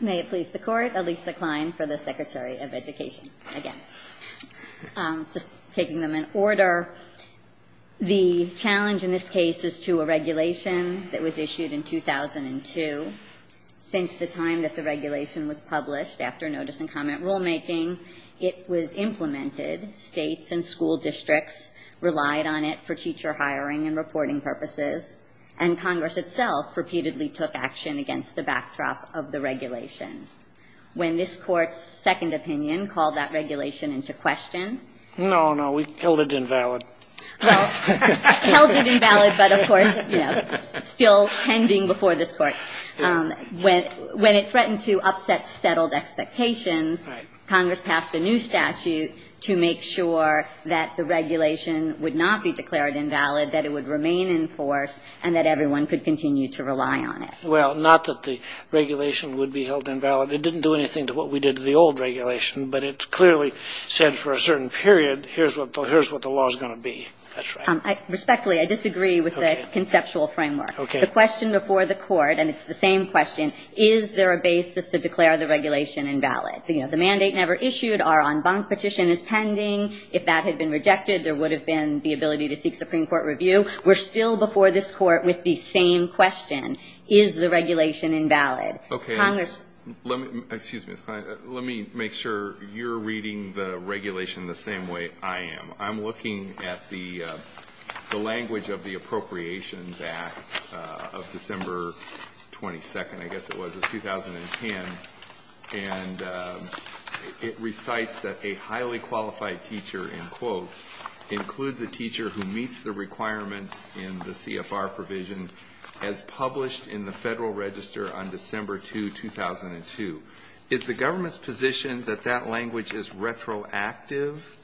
May it please the Court, Elisa Klein for the Secretary of Education. Again, just taking them in order. The challenge in this case is to a regulation that was issued in 2002. Since the time that the regulation was published, after notice and comment rulemaking, it was implemented. States and school districts relied on it for teacher hiring and reporting purposes, and Congress itself repeatedly took action against the backdrop of the regulation. When this Court's second opinion called that regulation into question. No, no. We held it invalid. Well, held it invalid, but of course, you know, still pending before this Court. When it threatened to upset settled expectations, Congress passed a new statute to make sure that the regulation would not be declared invalid, that it would remain in force, and that everyone could continue to rely on it. Well, not that the regulation would be held invalid. It didn't do anything to what we did to the old regulation, but it clearly said for a certain period, here's what the law's going to be. That's right. Respectfully, I disagree with the conceptual framework. The question before the Court, and it's the same question, is there a basis to declare the regulation invalid? You know, the mandate never issued, our en banc petition is pending. If that had been held before this Court with the same question, is the regulation invalid? Okay, let me, excuse me, let me make sure you're reading the regulation the same way I am. I'm looking at the language of the Appropriations Act of December 22nd, I guess it was, of 2010, and it recites that a highly qualified teacher, in quotes, includes a teacher who meets the requirements in the CFR provision as published in the Federal Register on December 2, 2002. Is the government's position that that language is retroactive?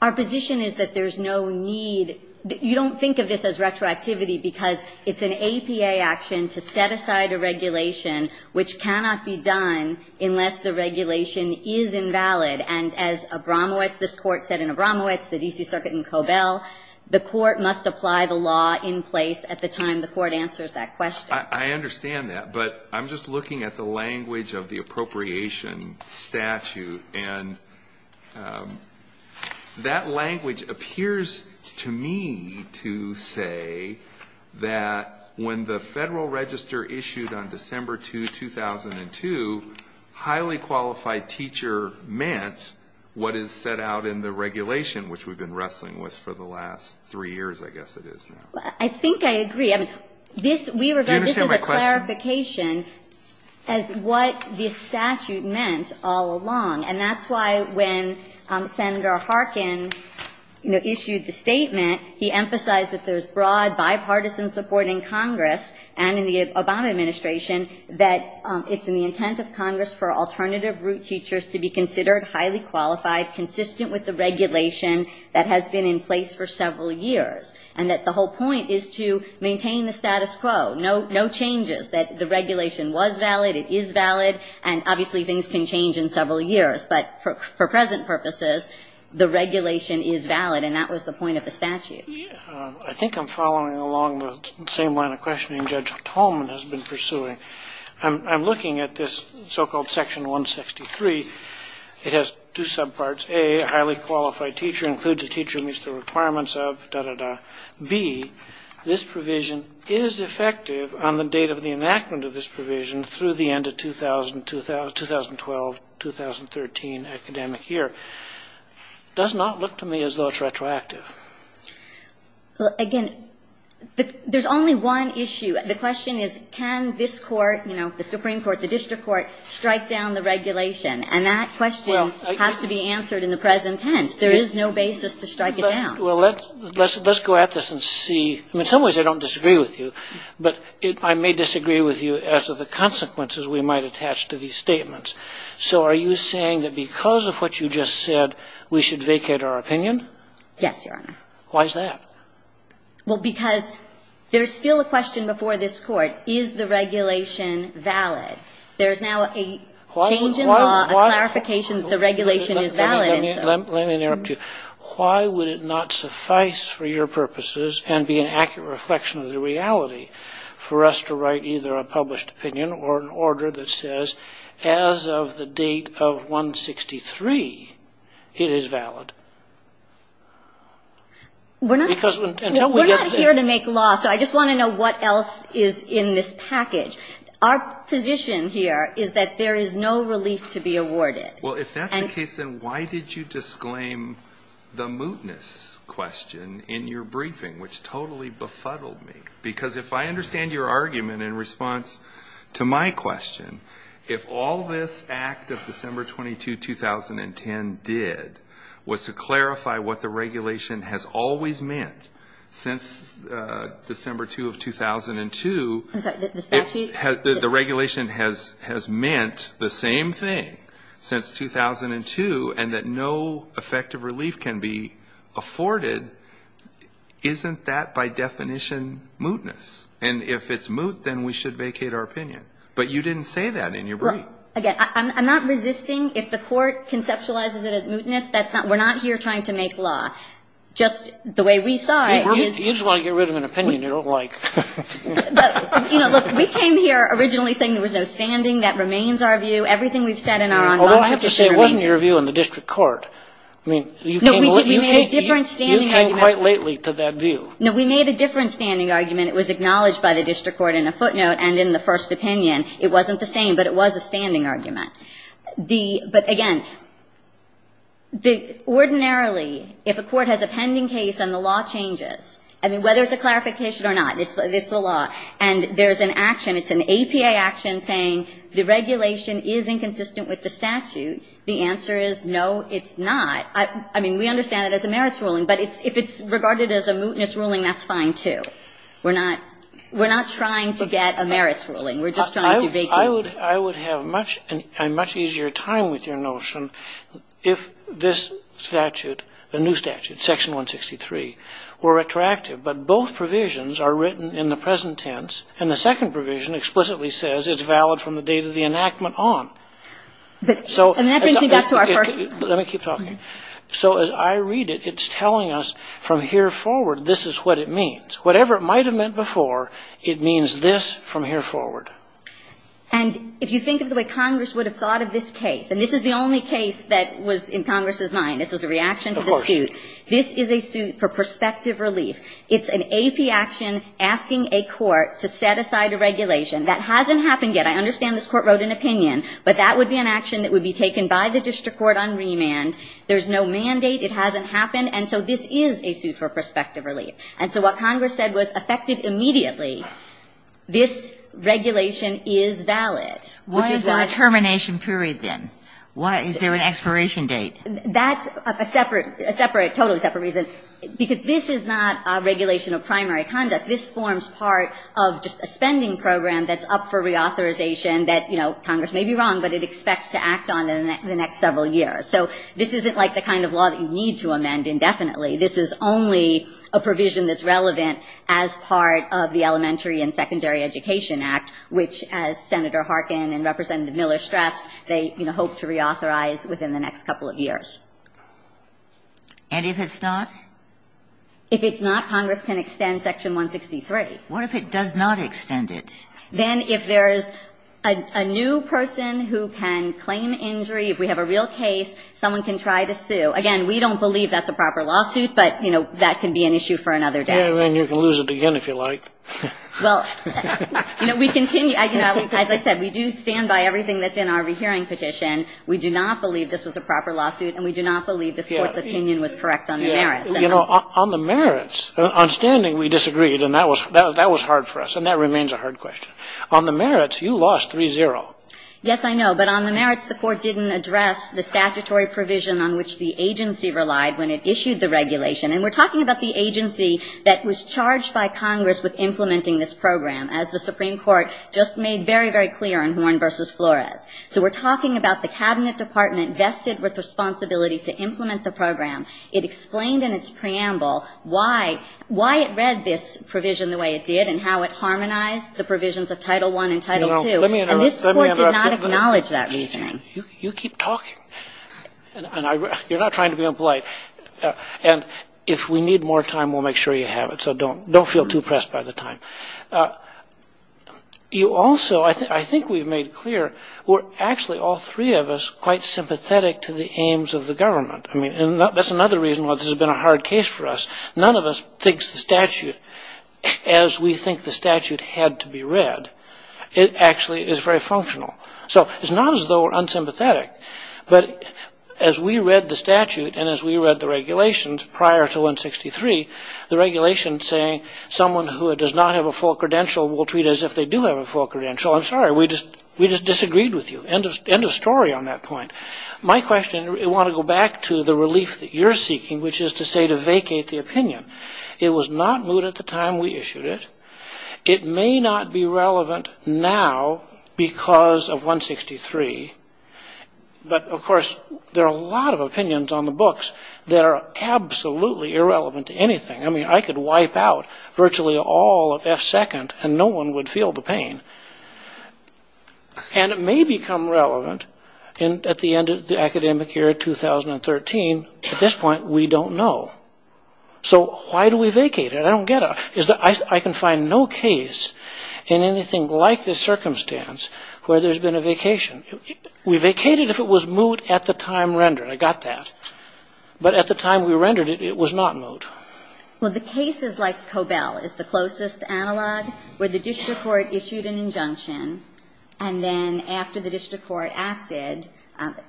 Our position is that there's no need. You don't think of this as retroactivity because it's an APA action to set aside a regulation which cannot be done unless the regulation is invalid. And as Abramowitz, this Court said in Abramowitz, the D.C. Circuit in Cobell, the Court must apply the law in place at the time the Court answers that question. I understand that, but I'm just looking at the language of the appropriation statute, and that language appears to me to say that when the Federal Register issued on December 2, 2002, highly qualified teacher meant what is set out in the regulation which we've been wrestling with for the last three years, I guess it is now. I think I agree. I mean, this, we regard this as a clarification as what this statute meant all along. And that's why when Senator Harkin, you know, issued the statement, he emphasized that there's broad bipartisan support in Congress and in the Obama administration that it's in the intent of Congress for alternative root teachers to be considered highly qualified, consistent with the regulation that has been in place for several years, and that the whole point is to maintain the status quo, no changes, that the regulation was valid, it is valid, and obviously things can change in several years. But for present purposes, the regulation is valid, and that was the point of the statute. I think I'm following along the same line of questioning Judge Tolman has been pursuing. I'm looking at this so-called Section 163. It has two subparts. A, a highly qualified teacher includes a teacher who meets the requirements of da-da-da. B, this provision is effective on the date of the enactment of this provision through the end of 2012-2013 academic year. Does not look to me as though it's retroactive. Well, again, there's only one issue. The question is, can this court, you know, the Supreme Court, the District Court, strike down the regulation? And that question has to be answered in the present tense. There is no basis to strike it down. Well, let's go at this and see. In some ways I don't disagree with you, but I may disagree with you as to the consequences we might attach to these statements. So are you saying that because of what you just said, we should vacate our opinion? Yes, Your Honor. Why is that? Well, because there's still a question before this Court, is the regulation valid? There's now a change in law, a clarification that the regulation is valid. Let me interrupt you. Why would it not suffice for your purposes and be an accurate reflection of the reality for us to write either a published opinion or an order that is not? We're not here to make law, so I just want to know what else is in this package. Our position here is that there is no relief to be awarded. Well, if that's the case, then why did you disclaim the mootness question in your briefing, which totally befuddled me? Because if I understand your argument in response to my question, if all this Act of December 22, 2010 did was to clarify what the regulation has always meant since December 2 of 2002, the regulation has meant the same thing since 2002, and that no effective relief can be afforded, isn't that by definition mootness? And if it's moot, then we should vacate our opinion. But you didn't say that in your briefing. Again, I'm not resisting. If the Court conceptualizes it as mootness, that's not we're not here trying to make law. Just the way we saw it is You just want to get rid of an opinion you don't like. But, you know, look, we came here originally saying there was no standing. That remains our view. Everything we've said in our on-moment discussion Although I have to say it wasn't your view in the district court. I mean, you came quite lately to that view. No, we made a different standing argument. It was acknowledged by the district court in a footnote and in the first opinion. It wasn't the same, but it was a standing argument. But, again, ordinarily, if a court has a pending case and the law changes, I mean, whether it's a clarification or not, it's the law, and there's an action, it's an APA action saying the regulation is inconsistent with the statute, the answer is no, it's not. I mean, we understand it as a merits ruling, but if it's regarded as a mootness ruling, that's fine, too. We're not trying to get a merits ruling. We're just trying to make it. I would have a much easier time with your notion if this statute, the new statute, Section 163, were retroactive, but both provisions are written in the present tense, and the second provision explicitly says it's valid from the date of the enactment on. And that brings me back to our first Let me keep talking. So as I read it, it's telling us from here forward, this is what it means. Whatever it might have meant before, it means this from here forward. And if you think of the way Congress would have thought of this case, and this is the only case that was in Congress's mind. This was a reaction to the suit. Of course. This is a suit for prospective relief. It's an AP action asking a court to set aside a regulation. That hasn't happened yet. I understand this Court wrote an opinion, but that would be an action that would be taken by the district court on remand. There's no mandate. It hasn't happened. And so this is a suit for prospective relief. And so what Congress said was, affected immediately, this regulation is valid. Which is why Why is there a termination period then? Why is there an expiration date? That's a separate, a separate, totally separate reason, because this is not a regulation of primary conduct. This forms part of just a spending program that's up for reauthorization that, you know, Congress may be wrong, but it expects to act on in the next several years. So this isn't like the kind of law that you need to amend indefinitely. This is only a provision that's relevant as part of the Elementary and Secondary Education Act, which, as Senator Harkin and Representative Miller stressed, they, you know, hope to reauthorize within the next couple of years. And if it's not? If it's not, Congress can extend Section 163. What if it does not extend it? Then if there's a new person who can claim injury, if we have a real case, someone can try to sue. Again, we don't believe that's a proper lawsuit, but, you know, that can be an issue for another day. Yeah, and then you can lose it again if you like. Well, you know, we continue, as I said, we do stand by everything that's in our rehearing petition. We do not believe this was a proper lawsuit, and we do not believe the Court's opinion was correct on the merits. You know, on the merits, on standing, we disagreed, and that was hard for us. And that remains a hard question. On the merits, you lost 3-0. Yes, I know. But on the merits, the Court didn't address the statutory provision on which the agency relied when it issued the regulation. And we're talking about the agency that was charged by Congress with implementing this program, as the Supreme Court just made very, very clear in Horne v. Flores. So we're talking about the Cabinet Department vested with responsibility to implement the program. It explained in its preamble why it read this provision the way it did and how it harmonized the provisions of Title I and Title II. And this Court did not acknowledge that reasoning. You keep talking, and you're not trying to be impolite. And if we need more time, we'll make sure you have it. So don't feel too pressed by the time. You also, I think we've made clear, we're actually, all three of us, quite sympathetic to the aims of the government. I mean, that's another reason why this has been a hard case for us. None of us thinks the statute, as we think the statute had to be read, actually is very functional. So it's not as though we're unsympathetic. But as we read the statute and as we read the regulations prior to 163, the regulation saying someone who does not have a full credential will treat as if they do have a full credential, I'm sorry, we just disagreed with you. End of story on that point. My question, I want to go back to the relief that you're seeking, which is to say to vacate the opinion. It was not moved at the time we issued it. It may not be relevant now because of 163. But of course, there are a lot of opinions on the books that are absolutely irrelevant to anything. I mean, I could wipe out virtually all of F2, and no one would feel the pain. And it may become relevant at the end of the academic year 2013. At this point, we don't know. So why do we vacate it? I don't get it. I can find no case in anything like this circumstance where there's been a vacation. We vacated if it was moot at the time rendered. I got that. But at the time we rendered it, it was not moot. Well, the cases like Cobell is the closest analog, where the district court issued an injunction. And then after the district court acted,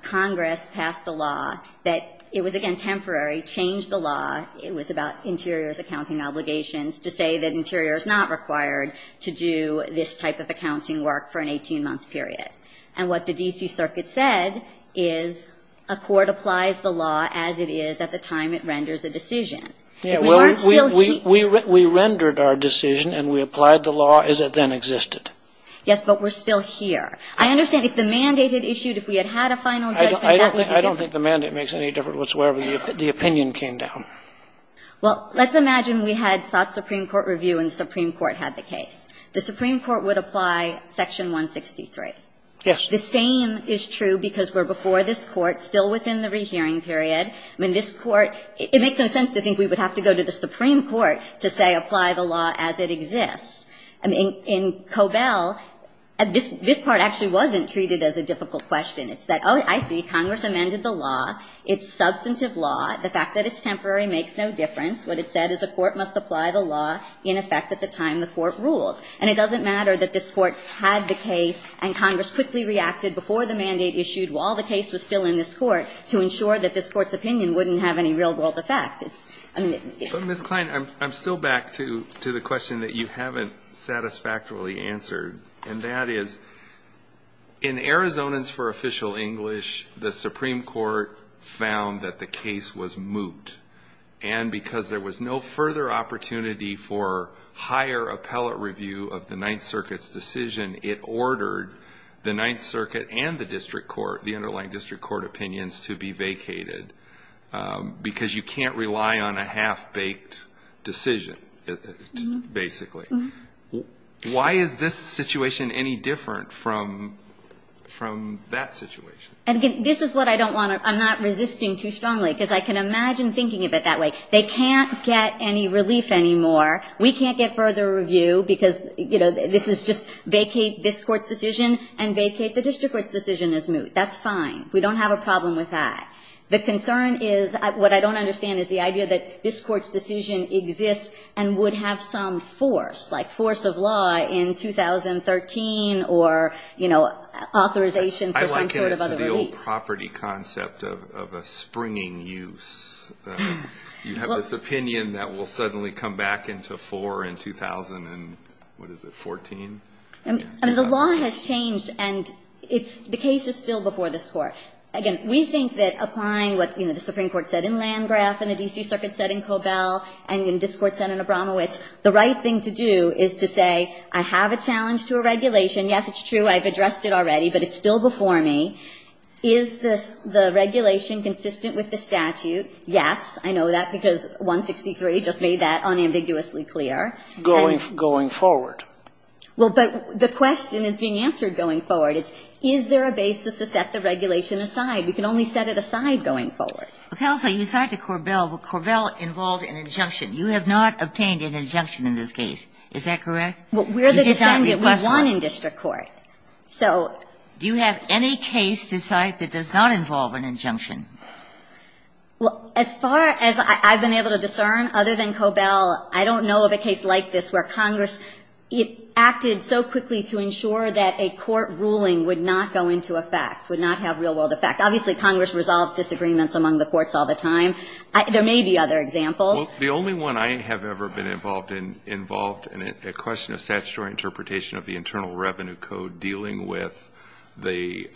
Congress passed a law that it was, again, temporary, changed the law. It was about interiors accounting obligations to say that interior is not required to do this type of accounting work for an 18-month period. And what the DC Circuit said is a court applies the law as it is at the time it renders a decision. We aren't still here. We rendered our decision, and we applied the law as it then existed. Yes, but we're still here. I understand if the mandate had issued, if we had had a final judgment, I don't think the mandate makes any difference wherever the opinion came down. Well, let's imagine we had sought Supreme Court review and the Supreme Court had the case. The Supreme Court would apply Section 163. Yes. The same is true because we're before this Court, still within the rehearing period. I mean, this Court, it makes no sense to think we would have to go to the Supreme Court to say, apply the law as it exists. I mean, in Cobell, this part actually wasn't treated as a difficult question. It's that, oh, I see, Congress amended the law. It's substantive law. The fact that it's temporary makes no difference. What it said is a court must apply the law in effect at the time the court rules. And it doesn't matter that this Court had the case and Congress quickly reacted before the mandate issued while the case was still in this Court to ensure that this Court's opinion wouldn't have any real-world effect. It's, I mean, it's the same. But, Ms. Klein, I'm still back to the question that you haven't satisfactorily answered, and that is, in Arizonans for Official English, the Supreme Court found that the case was moot. And because there was no further opportunity for higher appellate review of the Ninth Circuit's decision, it ordered the Ninth Circuit and the District Court, the underlying District Court opinions, to be vacated. Because you can't rely on a half-baked decision, basically. Why is this situation any different from that situation? And this is what I don't want to – I'm not resisting too strongly, because I can imagine thinking of it that way. They can't get any relief anymore. We can't get further review because, you know, this is just vacate this Court's decision and vacate the District Court's decision as moot. That's fine. We don't have a problem with that. The concern is – what I don't understand is the idea that this Court's decision exists and would have some force, like force of law in 2013 or, you know, authorization for some sort of other relief. I liken it to the old property concept of a springing use. You have this opinion that will suddenly come back into fore in 2000 and – what is it, 14? I mean, the law has changed, and it's – the case is still before this Court. Again, we think that applying what, you know, the Supreme Court said in Landgraf and the D.C. Circuit said in Korbel and in Discord said in Abramowitz, the right thing to do is to say, I have a challenge to a regulation. Yes, it's true. I've addressed it already, but it's still before me. Is the regulation consistent with the statute? Yes. I know that because 163 just made that unambiguously clear. Going forward. Well, but the question is being answered going forward. It's, is there a basis to set the regulation aside? We can only set it aside going forward. Well, counsel, you said to Korbel, well, Korbel involved an injunction. You have not obtained an injunction in this case. Is that correct? Well, we're the defendant. We won in district court. So. Do you have any case to cite that does not involve an injunction? Well, as far as I've been able to discern other than Korbel, I don't know of a case like this where Congress acted so quickly to ensure that a court ruling would not go into effect, would not have real-world effect. Obviously, Congress resolves disagreements among the courts all the time. There may be other examples. The only one I have ever been involved in involved in a question of statutory interpretation of the Internal Revenue Code dealing with the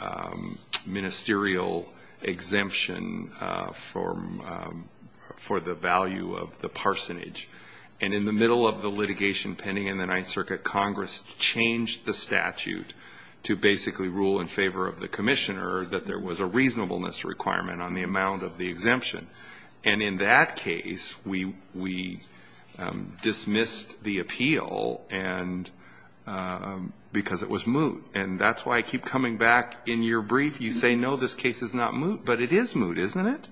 ministerial exemption for the value of the parsonage. And in the middle of the litigation pending in the Ninth Circuit, Congress changed the statute to basically rule in favor of the commissioner that there was a reasonableness requirement on the amount of the exemption. And in that case, we dismissed the appeal because it was moot. And that's why I keep coming back. In your brief, you say, no, this case is not moot. But it is moot, isn't it?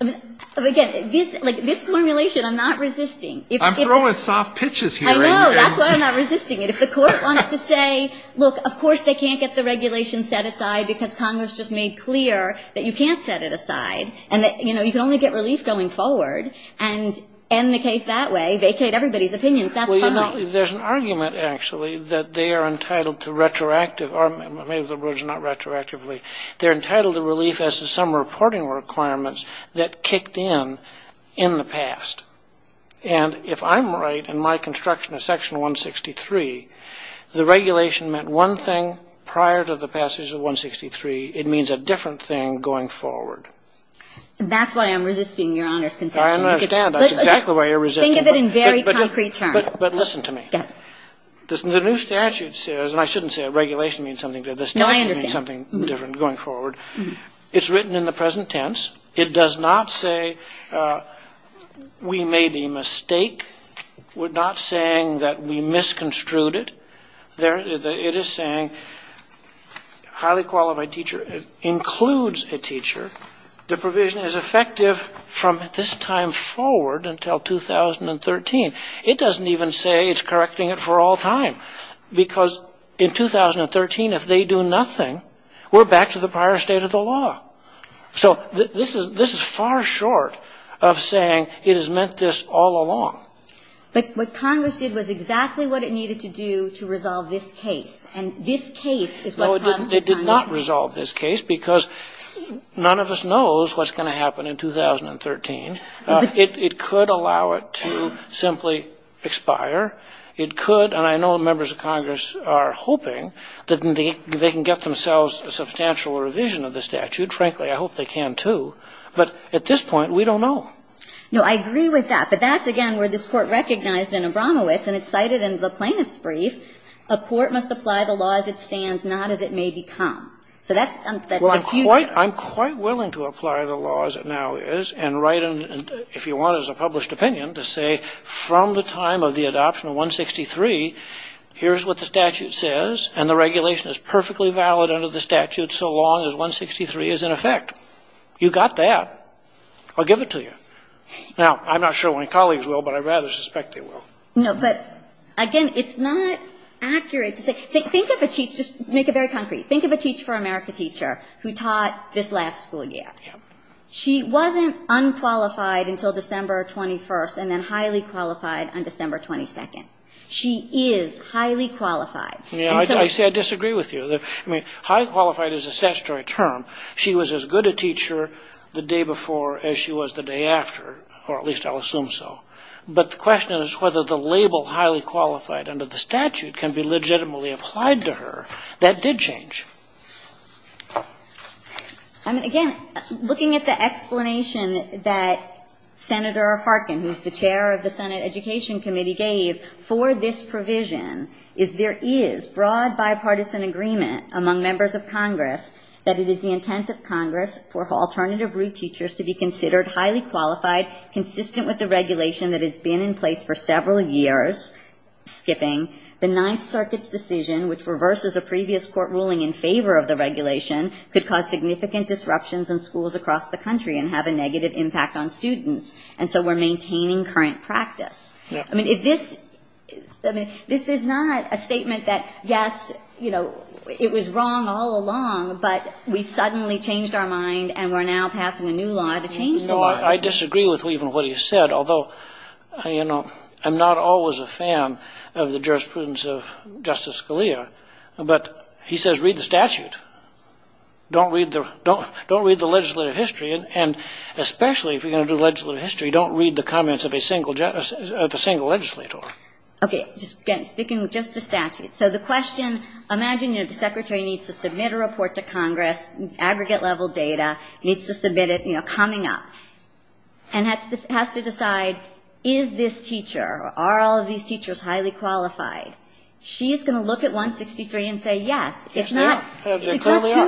Again, this formulation, I'm not resisting. I'm throwing soft pitches here. I know. That's why I'm not resisting it. If the court wants to say, look, of course, they can't get the regulation set aside because Congress just made clear that you can't set it aside and that, you know, you can only get relief going forward and end the case that way, vacate everybody's opinions, that's fine. Well, you know, there's an argument, actually, that they are entitled to retroactive or maybe the words are not retroactively. They're entitled to relief as to some reporting requirements that kicked in in the past. And if I'm right in my construction of Section 163, the regulation meant one thing prior to the passage of 163, it means a different thing going forward. That's why I'm resisting Your Honor's concession. I understand. That's exactly why you're resisting. Think of it in very concrete terms. But listen to me. The new statute says, and I shouldn't say regulation means something different, the statute means something different going forward. It's written in the present tense. It does not say we made a mistake. We're not saying that we misconstrued it. It is saying highly qualified teacher includes a teacher. The provision is effective from this time forward until 2013. It doesn't even say it's correcting it for all time. Because in 2013, if they do nothing, we're back to the prior state of the law. So this is far short of saying it has meant this all along. But what Congress did was exactly what it needed to do to resolve this case. And this case is what comes to Congress. It did not resolve this case because none of us knows what's going to happen in 2013. It could allow it to simply expire. It could, and I know members of Congress are hoping that they can get themselves a substantial revision of the statute. Frankly, I hope they can, too. But at this point, we don't know. No, I agree with that. But that's, again, where this Court recognized in Abramowitz, and it's cited in the plaintiff's brief, a court must apply the law as it stands, not as it may become. So that's the future. Well, I'm quite willing to apply the law as it now is and write, if you want, as a published opinion, to say from the time of the adoption of 163, here's what the statute says, and the regulation is perfectly valid under the statute so long as 163 is in effect. You got that. I'll give it to you. Now, I'm not sure my colleagues will, but I rather suspect they will. No, but, again, it's not accurate to say, think of a teacher, make it very concrete, think of a Teach for America teacher who taught this last school year. She wasn't unqualified until December 21st and then highly qualified on December 22nd. She is highly qualified. I disagree with you. Highly qualified is a statutory term. She was as good a teacher the day before as she was the day after, or at least I'll assume so. But the question is whether the label highly qualified under the statute can be legitimately applied to her. That did change. Again, looking at the explanation that Senator Harkin, who's the chair of the Senate Education Committee, gave for this provision is there is broad bipartisan agreement among members of Congress that it is the intent of Congress for alternative route teachers to be considered highly qualified, consistent with the regulation that has been in place for several years, skipping the Ninth Circuit's decision, which reverses a previous court ruling in favor of the regulation, could cause significant disruptions in schools across the country and have a negative impact on students. And so we're maintaining current practice. I mean, this is not a statement that, yes, you know, it was wrong all along, but we suddenly changed our mind and we're now passing a new law to change the law. I disagree with even what he said, although, you know, I'm not always a fan of the jurisprudence of Justice Scalia. But he says, read the statute. Don't read the legislative history. And especially if you're going to do legislative history, don't read the comments of a single legislator. OK, just sticking with just the statute. So the question, imagine the secretary needs to submit a report to Congress, aggregate level data needs to submit it, you know, coming up and has to decide, is this teacher, are all of these teachers highly qualified? She's going to look at 163 and say, yes, it's not two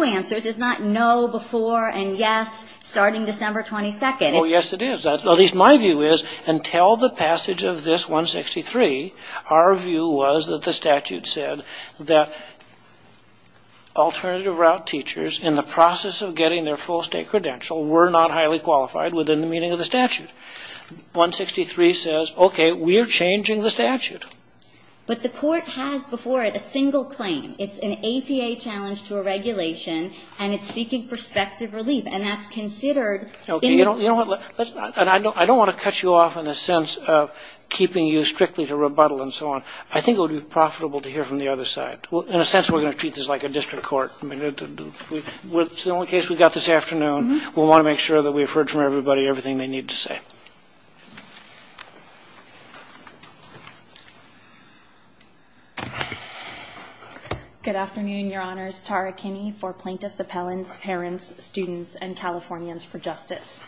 answers. It's not no before and yes, starting December 22nd. Oh, yes, it is. At least my view is, until the passage of this 163, our view was that the statute said that alternative route teachers in the process of getting their full state credential were not highly qualified within the meaning of the statute. 163 says, OK, we're changing the statute. But the court has before it a single claim. It's an APA challenge to a regulation and it's seeking prospective relief. And that's considered. OK, you know what? And I don't want to cut you off in the sense of keeping you strictly to rebuttal and so on. I think it would be profitable to hear from the other side. Well, in a sense, we're going to treat this like a district court. I mean, it's the only case we've got this afternoon. We want to make sure that we've heard from everybody everything they need to say. Good afternoon, Your Honors. Tara Kinney for plaintiffs, appellants, parents, students and Californians for Justice.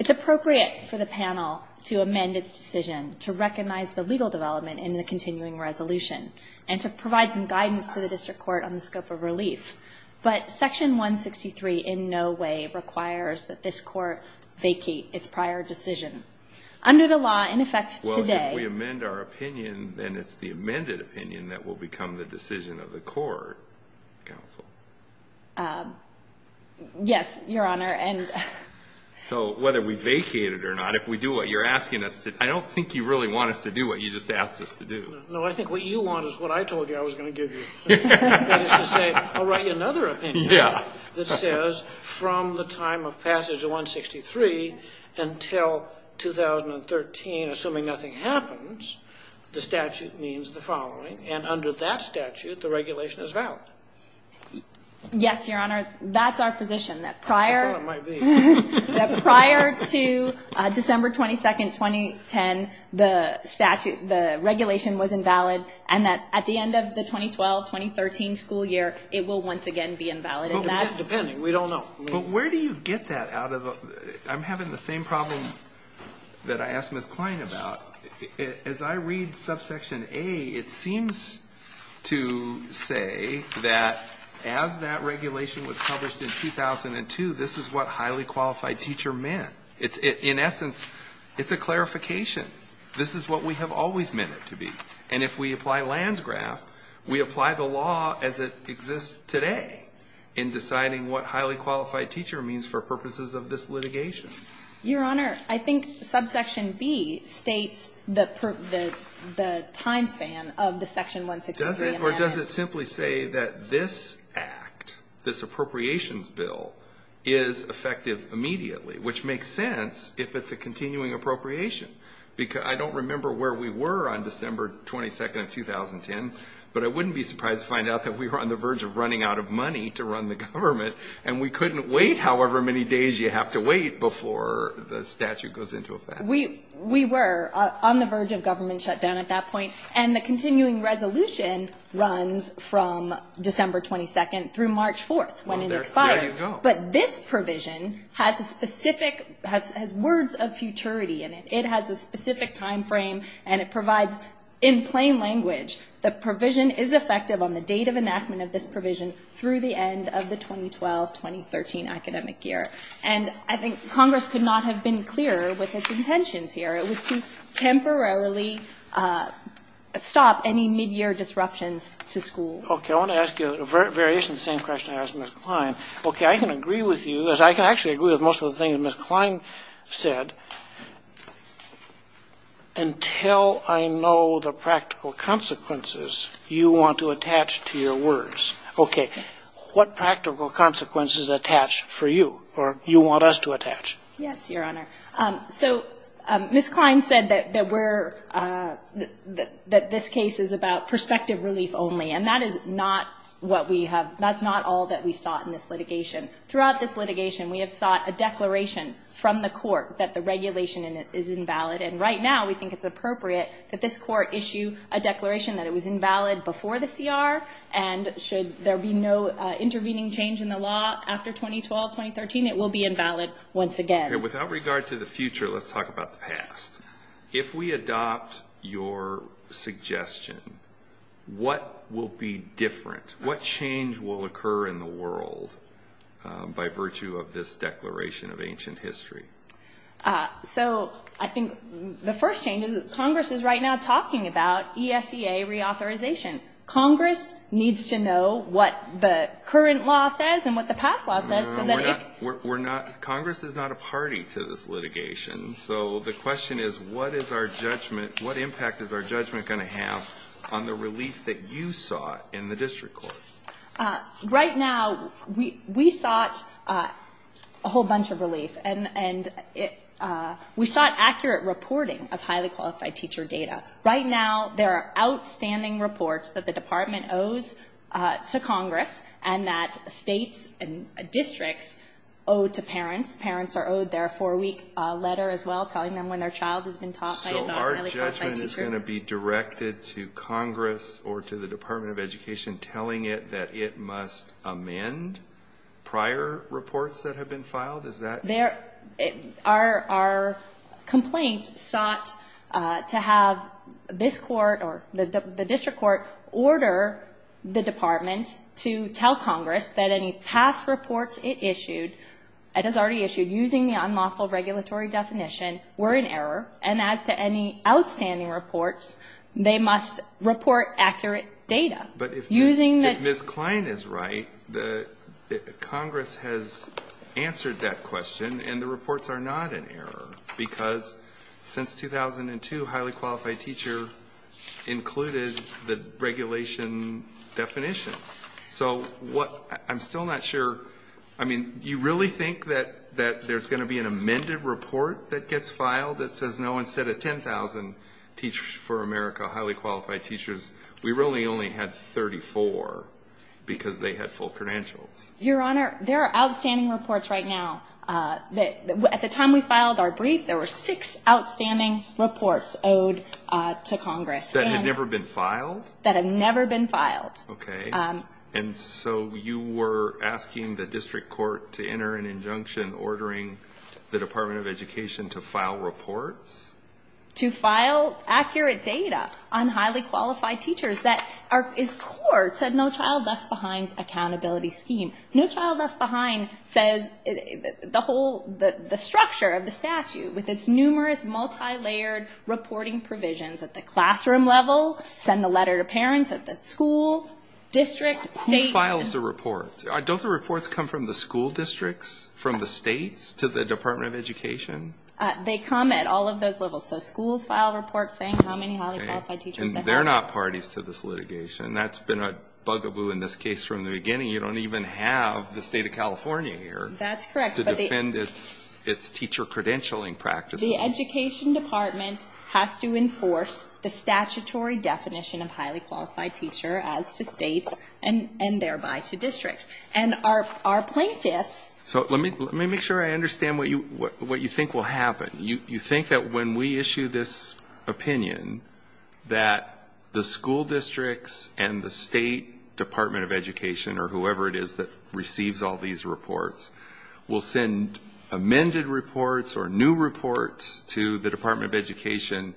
It's appropriate for the panel to amend its decision to recognize the legal development in the continuing resolution and to provide some guidance to the district court on the scope of relief. But Section 163 in no way requires that this court vacate its prior decision. Under the law, in effect today, we amend our opinion and it's the amended opinion that will become the decision of the court, counsel. Yes, Your Honor. And so whether we vacate it or not, if we do what you're asking us to, I don't think you really want us to do what you just asked us to do. No, I think what you want is what I told you I was going to give you. I'll write you another opinion that says from the time of passage of 163 until 2013, assuming nothing happens, the statute means the following. And under that statute, the regulation is valid. Yes, Your Honor. That's our position that prior to December 22nd, 2010, the statute, the regulation was invalid and that at the end of the 2012-2013 school year, it will once again be invalid. And that's depending. We don't know. But where do you get that out of? I'm having the same problem that I asked Ms. to say that as that regulation was published in 2002, this is what highly qualified teacher meant. It's in essence, it's a clarification. This is what we have always meant it to be. And if we apply Landsgraf, we apply the law as it exists today in deciding what highly qualified teacher means for purposes of this litigation. Your Honor, I think subsection B states that the time span of the section 163. Or does it simply say that this act, this appropriations bill is effective immediately, which makes sense if it's a continuing appropriation. Because I don't remember where we were on December 22nd of 2010, but I wouldn't be surprised to find out that we were on the verge of running out of money to run the statute goes into effect. We were on the verge of government shutdown at that point. And the continuing resolution runs from December 22nd through March 4th when it expires. But this provision has words of futurity in it. It has a specific time frame and it provides in plain language, the provision is effective on the date of enactment of this provision through the end of the 2012-2013 academic year. And I think Congress could not have been clearer with its intentions here. It was to temporarily stop any mid-year disruptions to schools. Okay. I want to ask you a variation of the same question I asked Ms. Klein. Okay. I can agree with you, as I can actually agree with most of the things Ms. Klein said, until I know the practical consequences you want to attach to your words. Okay. What practical consequences attach for you or you want us to attach? Yes, Your Honor. So Ms. Klein said that we're, that this case is about perspective relief only. And that is not what we have, that's not all that we sought in this litigation. Throughout this litigation, we have sought a declaration from the court that the regulation in it is invalid. And right now we think it's appropriate that this court issue a declaration that it was invalid before the CR and should there be no intervening change in the law after 2012-2013, it will be invalid once again. Okay. Without regard to the future, let's talk about the past. If we adopt your suggestion, what will be different? What change will occur in the world by virtue of this declaration of ancient history? So I think the first change is that Congress is right now talking about ESEA reauthorization. Congress needs to know what the current law says and what the past law says so that it... We're not, Congress is not a party to this litigation. So the question is, what is our judgment, what impact is our judgment going to have on the relief that you sought in the district court? Right now, we sought a whole bunch of relief and we sought accurate reporting of highly qualified teacher data. Right now, there are outstanding reports that the department owes to Congress and that states and districts owe to parents. Parents are owed their four-week letter as well, telling them when their child has been taught by a highly qualified teacher. So our judgment is going to be directed to Congress or to the Department of Education. Does that mean that it must amend prior reports that have been filed? Is that... There, our complaint sought to have this court or the district court order the department to tell Congress that any past reports it issued, it has already issued using the unlawful regulatory definition, were in error. And as to any outstanding reports, they must report accurate data. But if Ms. Kline is right, Congress has answered that question and the reports are not in error because since 2002, highly qualified teacher included the regulation definition. So what I'm still not sure, I mean, you really think that there's going to be an amended report that gets filed that says, no, instead of 10,000 teachers for 34, because they had full credentials? Your Honor, there are outstanding reports right now. At the time we filed our brief, there were six outstanding reports owed to Congress. That had never been filed? That had never been filed. Okay. And so you were asking the district court to enter an injunction ordering the Department of Education to file reports? To file accurate data on highly qualified teachers that is core to No Child Left Behind's accountability scheme. No Child Left Behind says the whole, the structure of the statute with its numerous multi-layered reporting provisions at the classroom level, send the letter to parents at the school, district, state. Who files the report? Don't the reports come from the school districts, from the states, to the Department of Education? They come at all of those levels. So schools file reports saying how many highly qualified teachers they have. And they're not parties to this litigation. That's been a bugaboo in this case from the beginning. You don't even have the state of California here to defend its teacher credentialing practices. The Education Department has to enforce the statutory definition of highly qualified teacher as to states and thereby to districts. And our plaintiffs... So let me make sure I understand what you think will happen. You think that when we issue this opinion that the school districts and the state Department of Education or whoever it is that receives all these reports will send amended reports or new reports to the Department of Education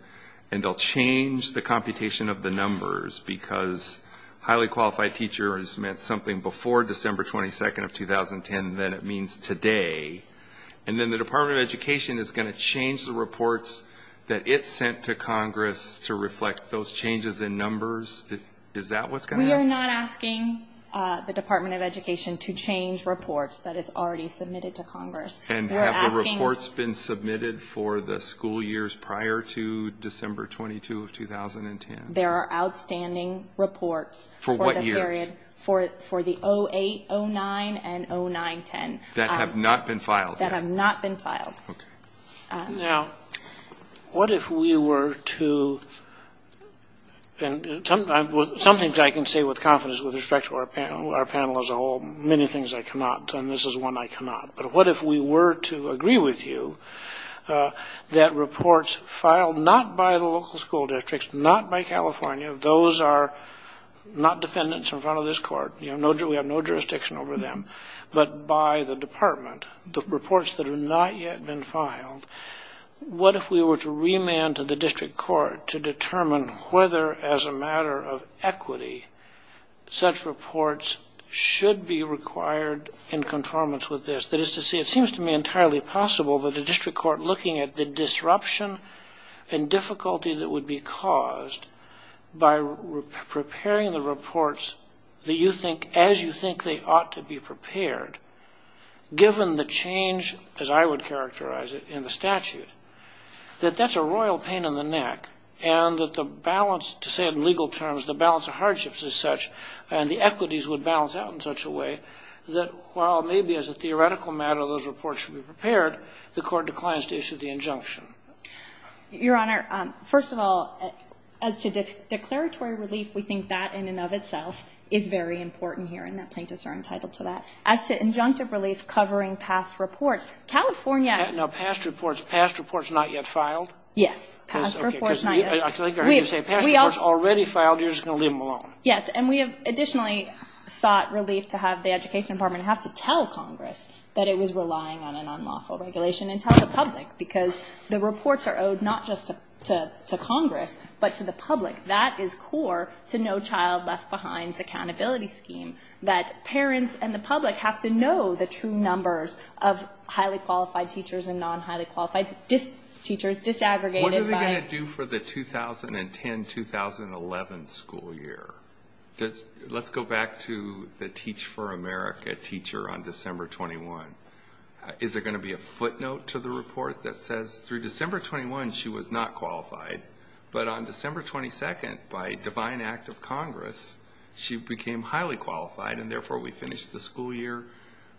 and they'll change the computation of the numbers because highly qualified teachers meant something before December 22nd of 2010 than it means today. And then the Department of Education is going to change the reports that it sent to Congress to reflect those changes in numbers? Is that what's going to happen? We are not asking the Department of Education to change reports that it's already submitted to Congress. And have the reports been submitted for the school years prior to December 22 of 2010? There are outstanding reports... For what years? For the 08, 09, and 09, 10. That have not been filed? That have not been filed. Now, what if we were to, and something I can say with confidence with respect to our panel as a whole, many things I cannot, and this is one I cannot, but what if we were to agree with you that reports filed not by the local school districts, not by this court, we have no jurisdiction over them, but by the department, the reports that have not yet been filed, what if we were to remand to the district court to determine whether as a matter of equity such reports should be required in conformance with this? That is to say, it seems to me entirely possible that the district court looking at the disruption and difficulty that would be caused by preparing the reports that you think, as you think they ought to be prepared, given the change, as I would characterize it, in the statute, that that's a royal pain in the neck and that the balance, to say in legal terms, the balance of hardships as such and the equities would balance out in such a way that while maybe as a theoretical matter those would balance out in the injunction. Your Honor, first of all, as to declaratory relief, we think that in and of itself is very important here and that plaintiffs are entitled to that. As to injunctive relief covering past reports, California... Now, past reports, past reports not yet filed? Yes, past reports not yet. I think you're going to say past reports already filed, you're just going to leave them alone. Yes, and we have additionally sought relief to have the education department have to tell Congress that it was relying on an unlawful regulation and tell the Congress the reports are owed not just to Congress but to the public. That is core to No Child Left Behind's accountability scheme, that parents and the public have to know the true numbers of highly qualified teachers and non-highly qualified teachers disaggregated by... What are they going to do for the 2010-2011 school year? Let's go back to the Teach for America teacher on December 21. Is there going to be a footnote to the report that says through December 21, she was not qualified, but on December 22nd by divine act of Congress, she became highly qualified and therefore we finished the school year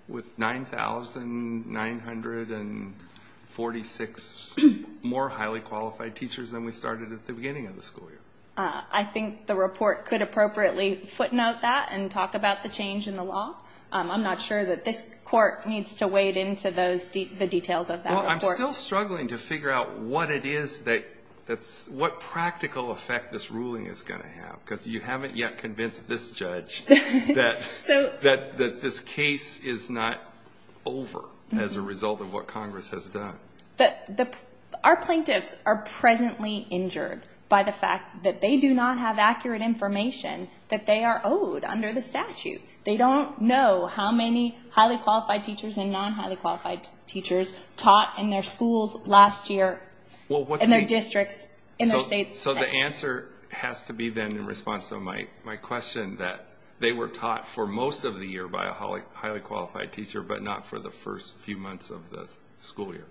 with 9,946 more highly qualified teachers than we started at the beginning of the school year. I think the report could appropriately footnote that and talk about the change in the law. I'm not sure that this court needs to wade into the details of that report. We're still struggling to figure out what it is that's... What practical effect this ruling is going to have because you haven't yet convinced this judge that this case is not over as a result of what Congress has done. Our plaintiffs are presently injured by the fact that they do not have accurate information that they are owed under the statute. They don't know how many highly qualified teachers were taught at schools last year in their districts, in their states. So the answer has to be then in response to my question that they were taught for most of the year by a highly qualified teacher, but not for the first few months of the school year.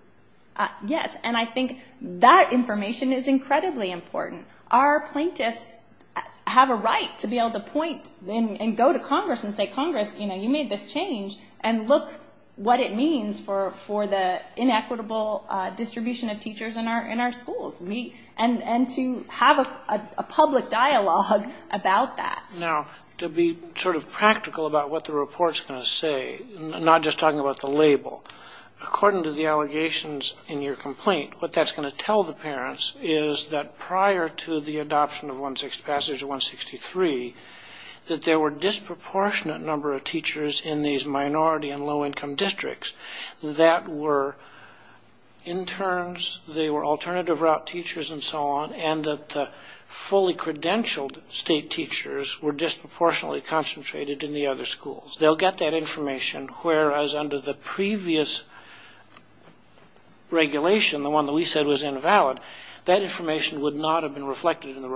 Yes, and I think that information is incredibly important. Our plaintiffs have a right to be able to point and go to Congress and say, Congress, you made this change, and look what it means for the inequitable distribution of teachers in our schools. And to have a public dialogue about that. Now, to be sort of practical about what the report's going to say, not just talking about the label, according to the allegations in your complaint, what that's going to tell the parents is that prior to the adoption of passage 163, that there were disproportionate number of teachers in these minority and low income districts that were interns, they were alternative route teachers and so on, and that the fully credentialed state teachers were disproportionately concentrated in the other schools. They'll get that information, whereas under the previous regulation, the one that we said was invalid, that information would not have been reflected in the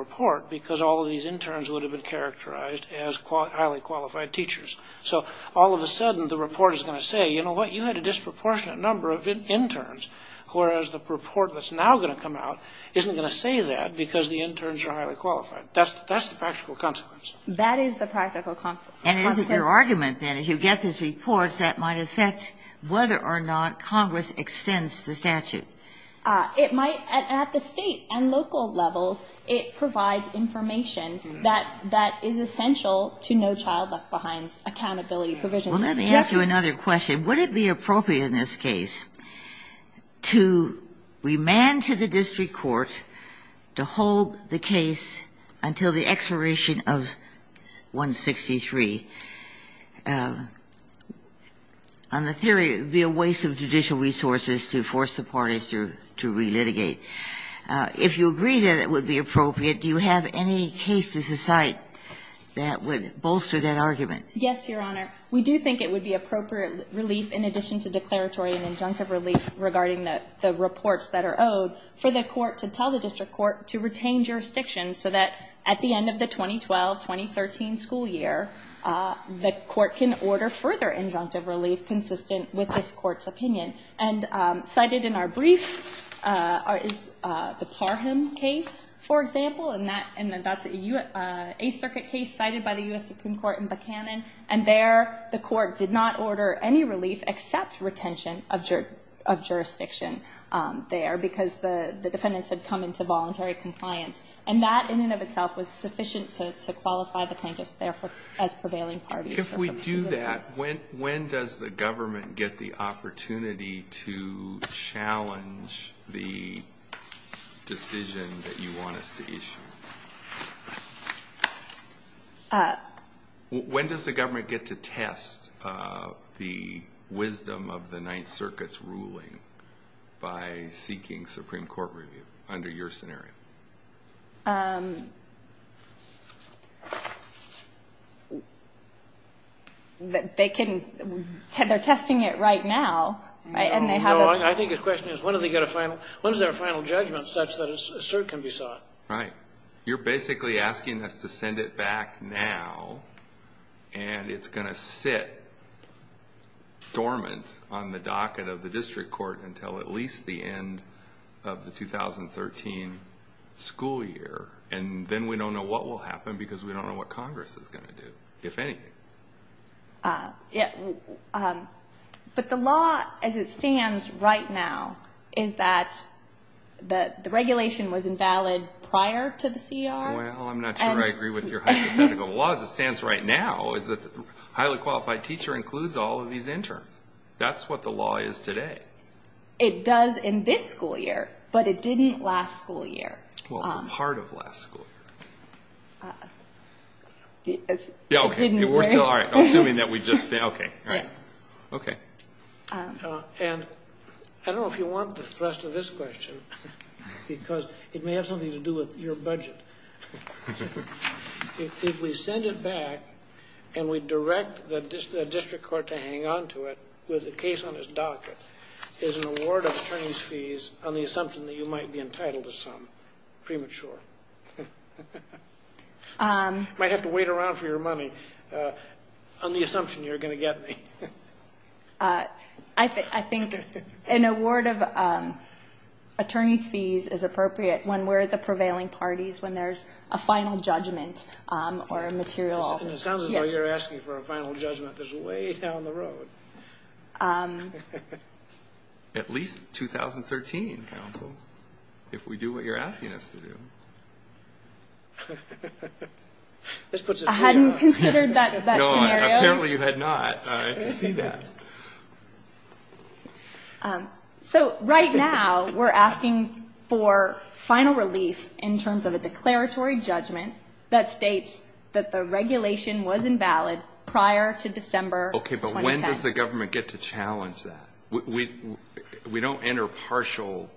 as highly qualified teachers. So all of a sudden, the report is going to say, you know what, you had a disproportionate number of interns, whereas the report that's now going to come out isn't going to say that because the interns are highly qualified. That's the practical consequence. That is the practical consequence. And is it your argument, then, as you get these reports, that might affect whether or not Congress extends the statute? It might, at the state and local levels, it provides information that is essential to No Child Left Behind's accountability provision. Well, let me ask you another question. Would it be appropriate in this case to remand to the district court to hold the case until the expiration of 163? On the theory, it would be a waste of judicial resources to force the parties to relitigate. If you agree that it would be appropriate, do you have any cases aside that would bolster that argument? Yes, Your Honor. We do think it would be appropriate relief, in addition to declaratory and injunctive relief regarding the reports that are owed, for the court to tell the district court to retain jurisdiction so that at the end of the 2012-2013 school year, the court can order further injunctive relief consistent with this court's opinion. And cited in our brief, the Parham case, for example, and that's an Eighth Circuit case cited by the U.S. Supreme Court in Buchanan. And there, the court did not order any relief except retention of jurisdiction there, because the defendants had come into voluntary compliance. And that, in and of itself, was sufficient to qualify the plaintiffs, therefore, as prevailing parties for purposes of this. If we do that, when does the government get the opportunity to challenge the decision that you want us to issue? When does the government get to test the wisdom of the Ninth Circuit's ruling by seeking Supreme Court review, under your scenario? They're testing it right now, and they haven't... No, no, I think his question is, when do they get a final... When is there a final judgment such that a cert can be sought? Right. You're basically asking us to send it back now, and it's going to sit dormant on the docket of the district court until at least the end of the 2013 school year. And then we don't know what will happen, because we don't know what Congress is going to do, if anything. But the law, as it stands right now, is that the regulation was invalid prior to the C.E.R.? Well, I'm not sure I agree with your hypothetical. The law, as it stands right now, is that the highly qualified teacher includes all of these interns. That's what the law is today. It does in this school year, but it didn't last school year. Well, for part of last school year. Yeah, okay, we're still all right, assuming that we just... Okay, all right. Okay. And I don't know if you want the rest of this question, because it may have something to do with your budget. But if we send it back, and we direct the district court to hang on to it with the case on its docket, is an award of attorney's fees on the assumption that you might be entitled to some premature? You might have to wait around for your money on the assumption you're going to get me. I think an award of attorney's fees is appropriate when we're the prevailing parties when there's a final judgment or a material... And it sounds as though you're asking for a final judgment that's way down the road. At least 2013, counsel, if we do what you're asking us to do. This puts a... I hadn't considered that scenario. No, apparently you had not. All right, I see that. So, right now, we're asking for final relief in terms of a declaratory judgment that states that the regulation was invalid prior to December 2010. Okay, but when does the government get to challenge that? We don't enter partial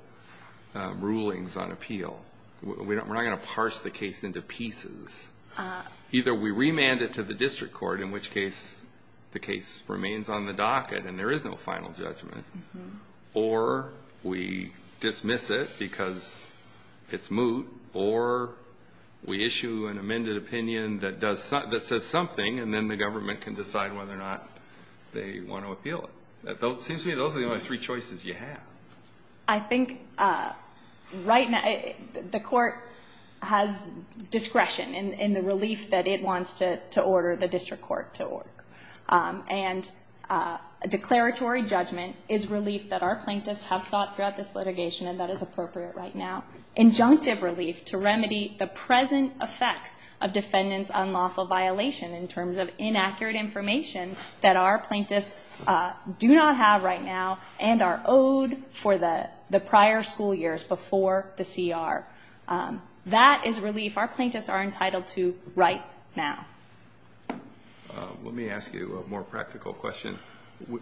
rulings on appeal. We're not going to parse the case into pieces. Either we remand it to the district court, in which case the case remains on the docket and there is no final judgment, or we dismiss it because it's moot, or we issue an amended opinion that says something and then the government can decide whether or not they want to appeal it. It seems to me those are the only three choices you have. I think, right now, the court has discretion in the relief that it wants to order the district court to order. And a declaratory judgment is relief that our plaintiffs have sought throughout this litigation and that is appropriate right now. Injunctive relief to remedy the present effects of defendant's unlawful violation in terms of inaccurate information that our plaintiffs do not have right now and are owed for the prior school years before the CR. That is relief our plaintiffs are entitled to right now. Let me ask you a more practical question.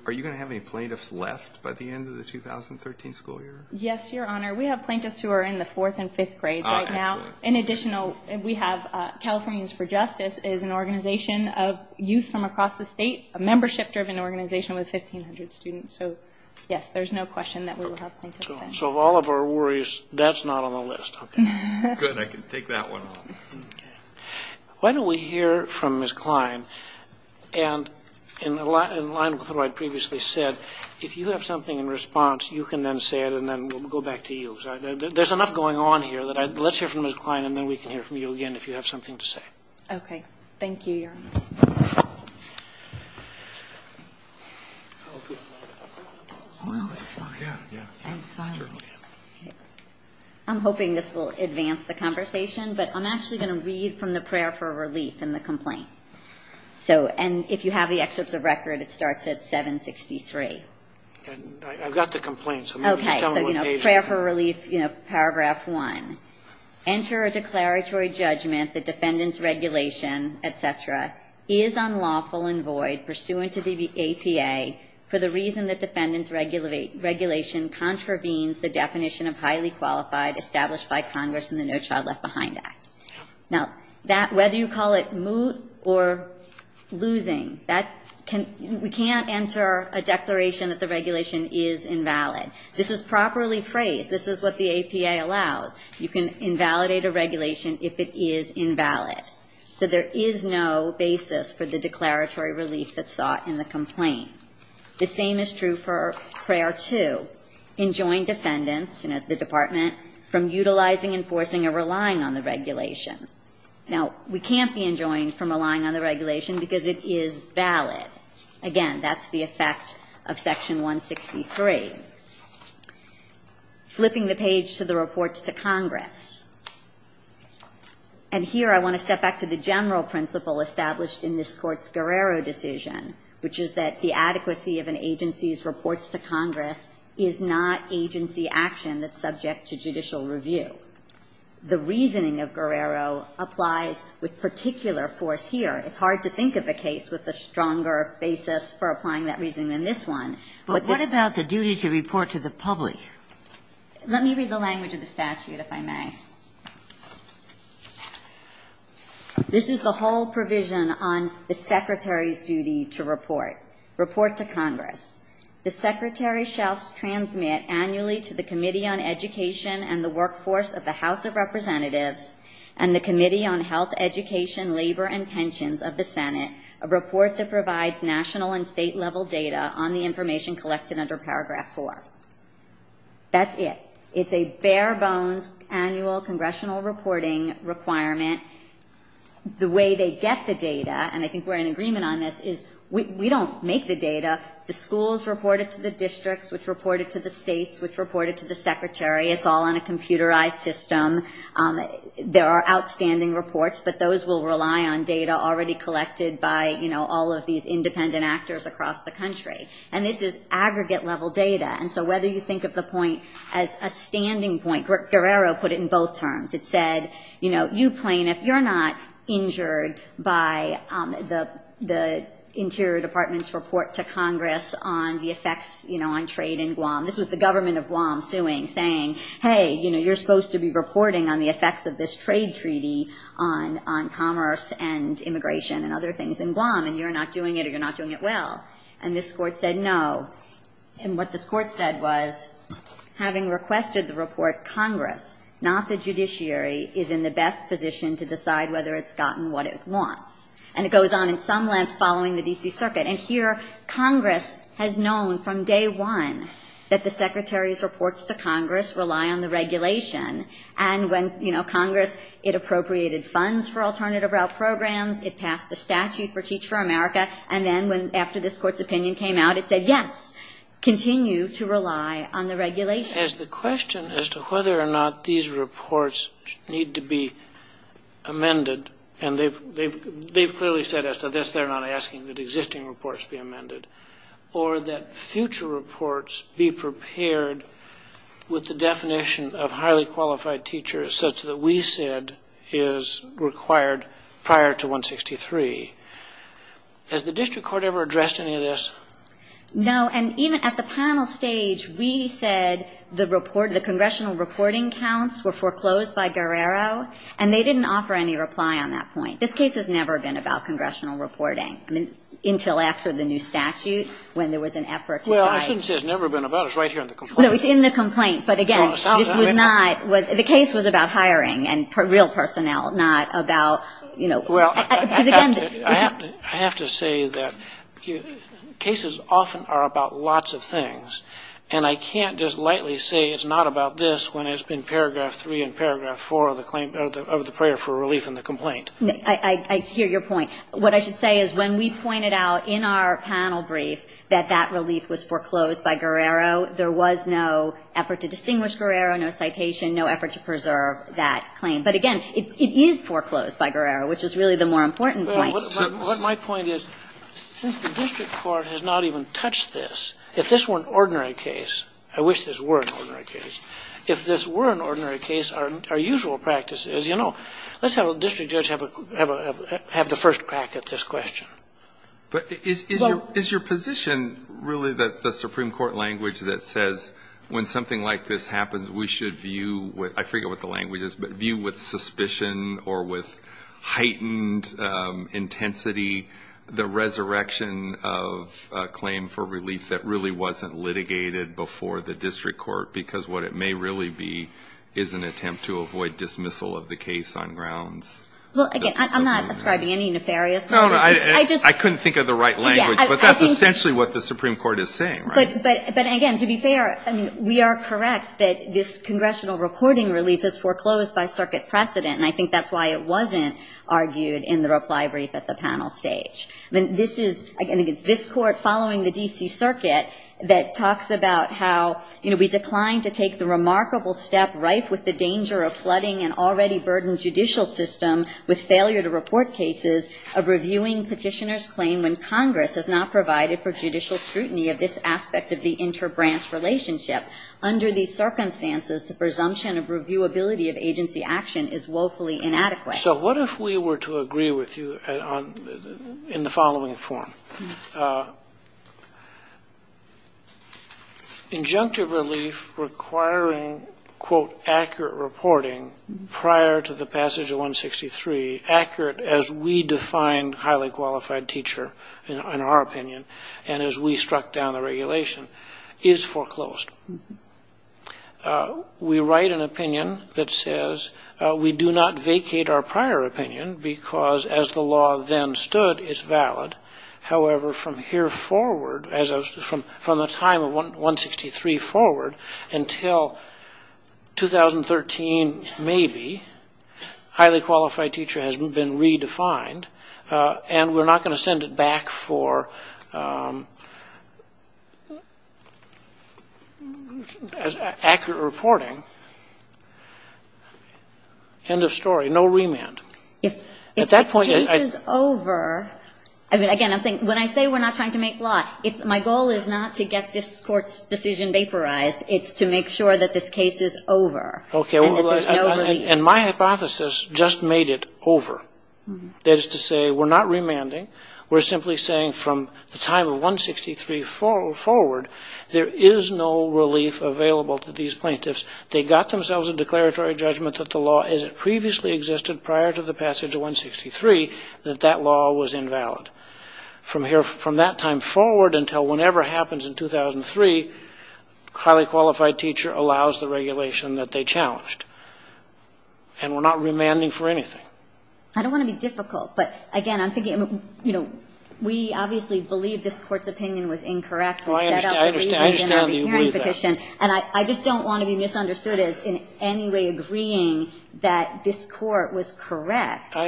Are you going to have any plaintiffs left by the end of the 2013 school year? Yes, Your Honor. We have plaintiffs who are in the fourth and fifth grades right now. In addition, we have Californians for Justice is an organization of youth from across the state, a membership-driven organization with 1,500 students. So yes, there's no question that we will have plaintiffs then. So of all of our worries, that's not on the list. Okay. Good. I can take that one on. Okay. Why don't we hear from Ms. Klein? And in line with what I previously said, if you have something in response, you can then say it and then we'll go back to you. There's enough going on here. Let's hear from Ms. Klein and then we can hear from you again if you have something to say. Okay. Thank you, Your Honor. I'm hoping this will advance the conversation, but I'm actually going to read from the prayer for relief in the complaint. And if you have the excerpts of record, it starts at 763. I've got the complaint. Okay. So, you know, prayer for relief, you know, paragraph one. Enter a declaratory judgment that defendant's regulation, et cetera, is unlawful and void pursuant to the APA for the reason that defendant's regulation contravenes the definition of highly qualified established by Congress in the No Child Left Behind Act. Now, whether you call it moot or losing, we can't enter a declaration that the regulation is invalid. This is properly phrased. This is what the APA allows. You can invalidate a regulation if it is invalid. So there is no basis for the declaratory relief that's sought in the complaint. The same is true for prayer two. Enjoin defendants, you know, the department, from utilizing, enforcing, or relying on the regulation. Now, we can't be enjoined from relying on the regulation because it is valid. Again, that's the effect of section 163. Flipping the page to the reports to Congress. And here I want to step back to the general principle established in this court's Guerrero decision, which is that the adequacy of an agency's reports to Congress is not agency action that's subject to judicial review. The reasoning of Guerrero applies with particular force here. It's hard to think of a case with a stronger basis for applying that reasoning than this one. But this one But what about the duty to report to the public? Let me read the language of the statute, if I may. This is the whole provision on the Secretary's duty to report. Report to Congress. The Secretary shall transmit annually to the Committee on Education and the Workforce of the House of Representatives and the Committee on Health, Education, Labor, and Pensions of the Senate a report that provides national and state-level data on the information collected under Paragraph 4. That's it. It's a bare-bones annual congressional reporting requirement. The way they get the data, and I think we're in agreement on this, is we don't make the data. The schools report it to the districts, which report it to the states, which report it to the Secretary. It's all on a computerized system. There are outstanding reports, but those will rely on data already collected by all of these independent actors across the country. And this is aggregate-level data. And so whether you think of the point as a standing point, Guerrero put it in both terms. It said, you know, you plaintiff, you're not injured by the Interior Department's report to Congress on the effects, you know, on trade in Guam. This was the government of Guam suing, saying, hey, you know, you're supposed to be reporting on the effects of this trade treaty on commerce and immigration and other things in Guam, and you're not doing it, or you're not doing it well. And this Court said no. And what this Court said was, having requested the report, Congress, not the judiciary, is in the best position to decide whether it's gotten what it wants. And it goes on in some length following the D.C. Circuit. And here, Congress has known from day one that the Secretary's reports to Congress rely on the regulation, and when, you know, Congress, it appropriated funds for alternative route programs, it passed a statute for Teach for America, and then when, after this Court's opinion came out, it said, yes, continue to rely on the regulation. As the question as to whether or not these reports need to be amended, and they've clearly said as to this, they're not asking that existing reports be amended, or that future reports be prepared with the definition of highly qualified teachers, such that we said is required prior to 163. Has the district court ever addressed any of this? No, and even at the panel stage, we said the congressional reporting counts were foreclosed by Guerrero, and they didn't offer any reply on that point. This case has never been about congressional reporting, I mean, until after the new statute, when there was an effort to try. Well, I shouldn't say it's never been about it. It's right here in the complaint. No, it's in the complaint. But again, this was not, the case was about hiring and real personnel, not about, you know. Well, I have to say that cases often are about lots of things, and I can't just lightly say it's not about this when it's been Paragraph 3 and Paragraph 4 of the prayer for relief in the complaint. I hear your point. What I should say is when we pointed out in our panel brief that that relief was foreclosed by Guerrero, there was no effort to distinguish Guerrero, no citation, no effort to preserve that claim. But again, it is foreclosed by Guerrero, which is really the more important point. What my point is, since the district court has not even touched this, if this were an ordinary case, I wish this were an ordinary case, if this were an ordinary case, our usual practice is, you know, let's have a district judge have the first crack at this question. But is your position really that the Supreme Court language that says when something like this happens, we should view with, I forget what the language is, but view with suspicion or with heightened intensity the resurrection of a claim for relief that really wasn't litigated before the district court? Because what it may really be is an attempt to avoid dismissal of the case on grounds of a claim for relief. Well, again, I'm not ascribing any nefarious motives. No, no. I just... I couldn't think of the right language. Yeah, I think... But that's essentially what the Supreme Court is saying, right? But again, to be fair, I mean, we are correct that this congressional reporting relief is foreclosed by circuit precedent, and I think that's why it wasn't argued in the reply brief at the panel stage. I mean, this is... I think it's this court following the D.C. Circuit that talks about how, you know, we declined to take the remarkable step rife with the danger of flooding an already burdened judicial system with failure to report cases of reviewing petitioner's claim when Congress has not provided for judicial scrutiny of this aspect of the interbranch relationship. Under these circumstances, the presumption of reviewability of agency action is woefully inadequate. So what if we were to agree with you in the following form? Injunctive relief requiring, quote, accurate reporting prior to the passage of 163, accurate as we define highly qualified teacher, in our opinion, and as we struck down the regulation, is foreclosed. We write an opinion that says we do not vacate our prior opinion because, as the law then stood, it's valid. However, from here forward, from the time of 163 forward until 2013, maybe, highly qualified teacher has been redefined, and we're not going to send it back for accurate reporting. End of story. No remand. At that point... If the case is over... I mean, again, I'm saying, when I say we're not trying to make law, my goal is not to get this court's decision vaporized. It's to make sure that this case is over and that there's no relief. And my hypothesis just made it over. That is to say, we're not remanding. We're simply saying from the time of 163 forward, there is no relief available to these plaintiffs. They got themselves a declaratory judgment that the law, as it previously existed prior to the passage of 163, that that law was invalid. From that time forward until whenever happens in 2003, highly qualified teacher allows the plaintiffs to be challenged. And we're not remanding for anything. I don't want to be difficult, but, again, I'm thinking, you know, we obviously believe this Court's opinion was incorrect when we set up the re-hearing petition. And I just don't want to be misunderstood as in any way agreeing that this Court was correct in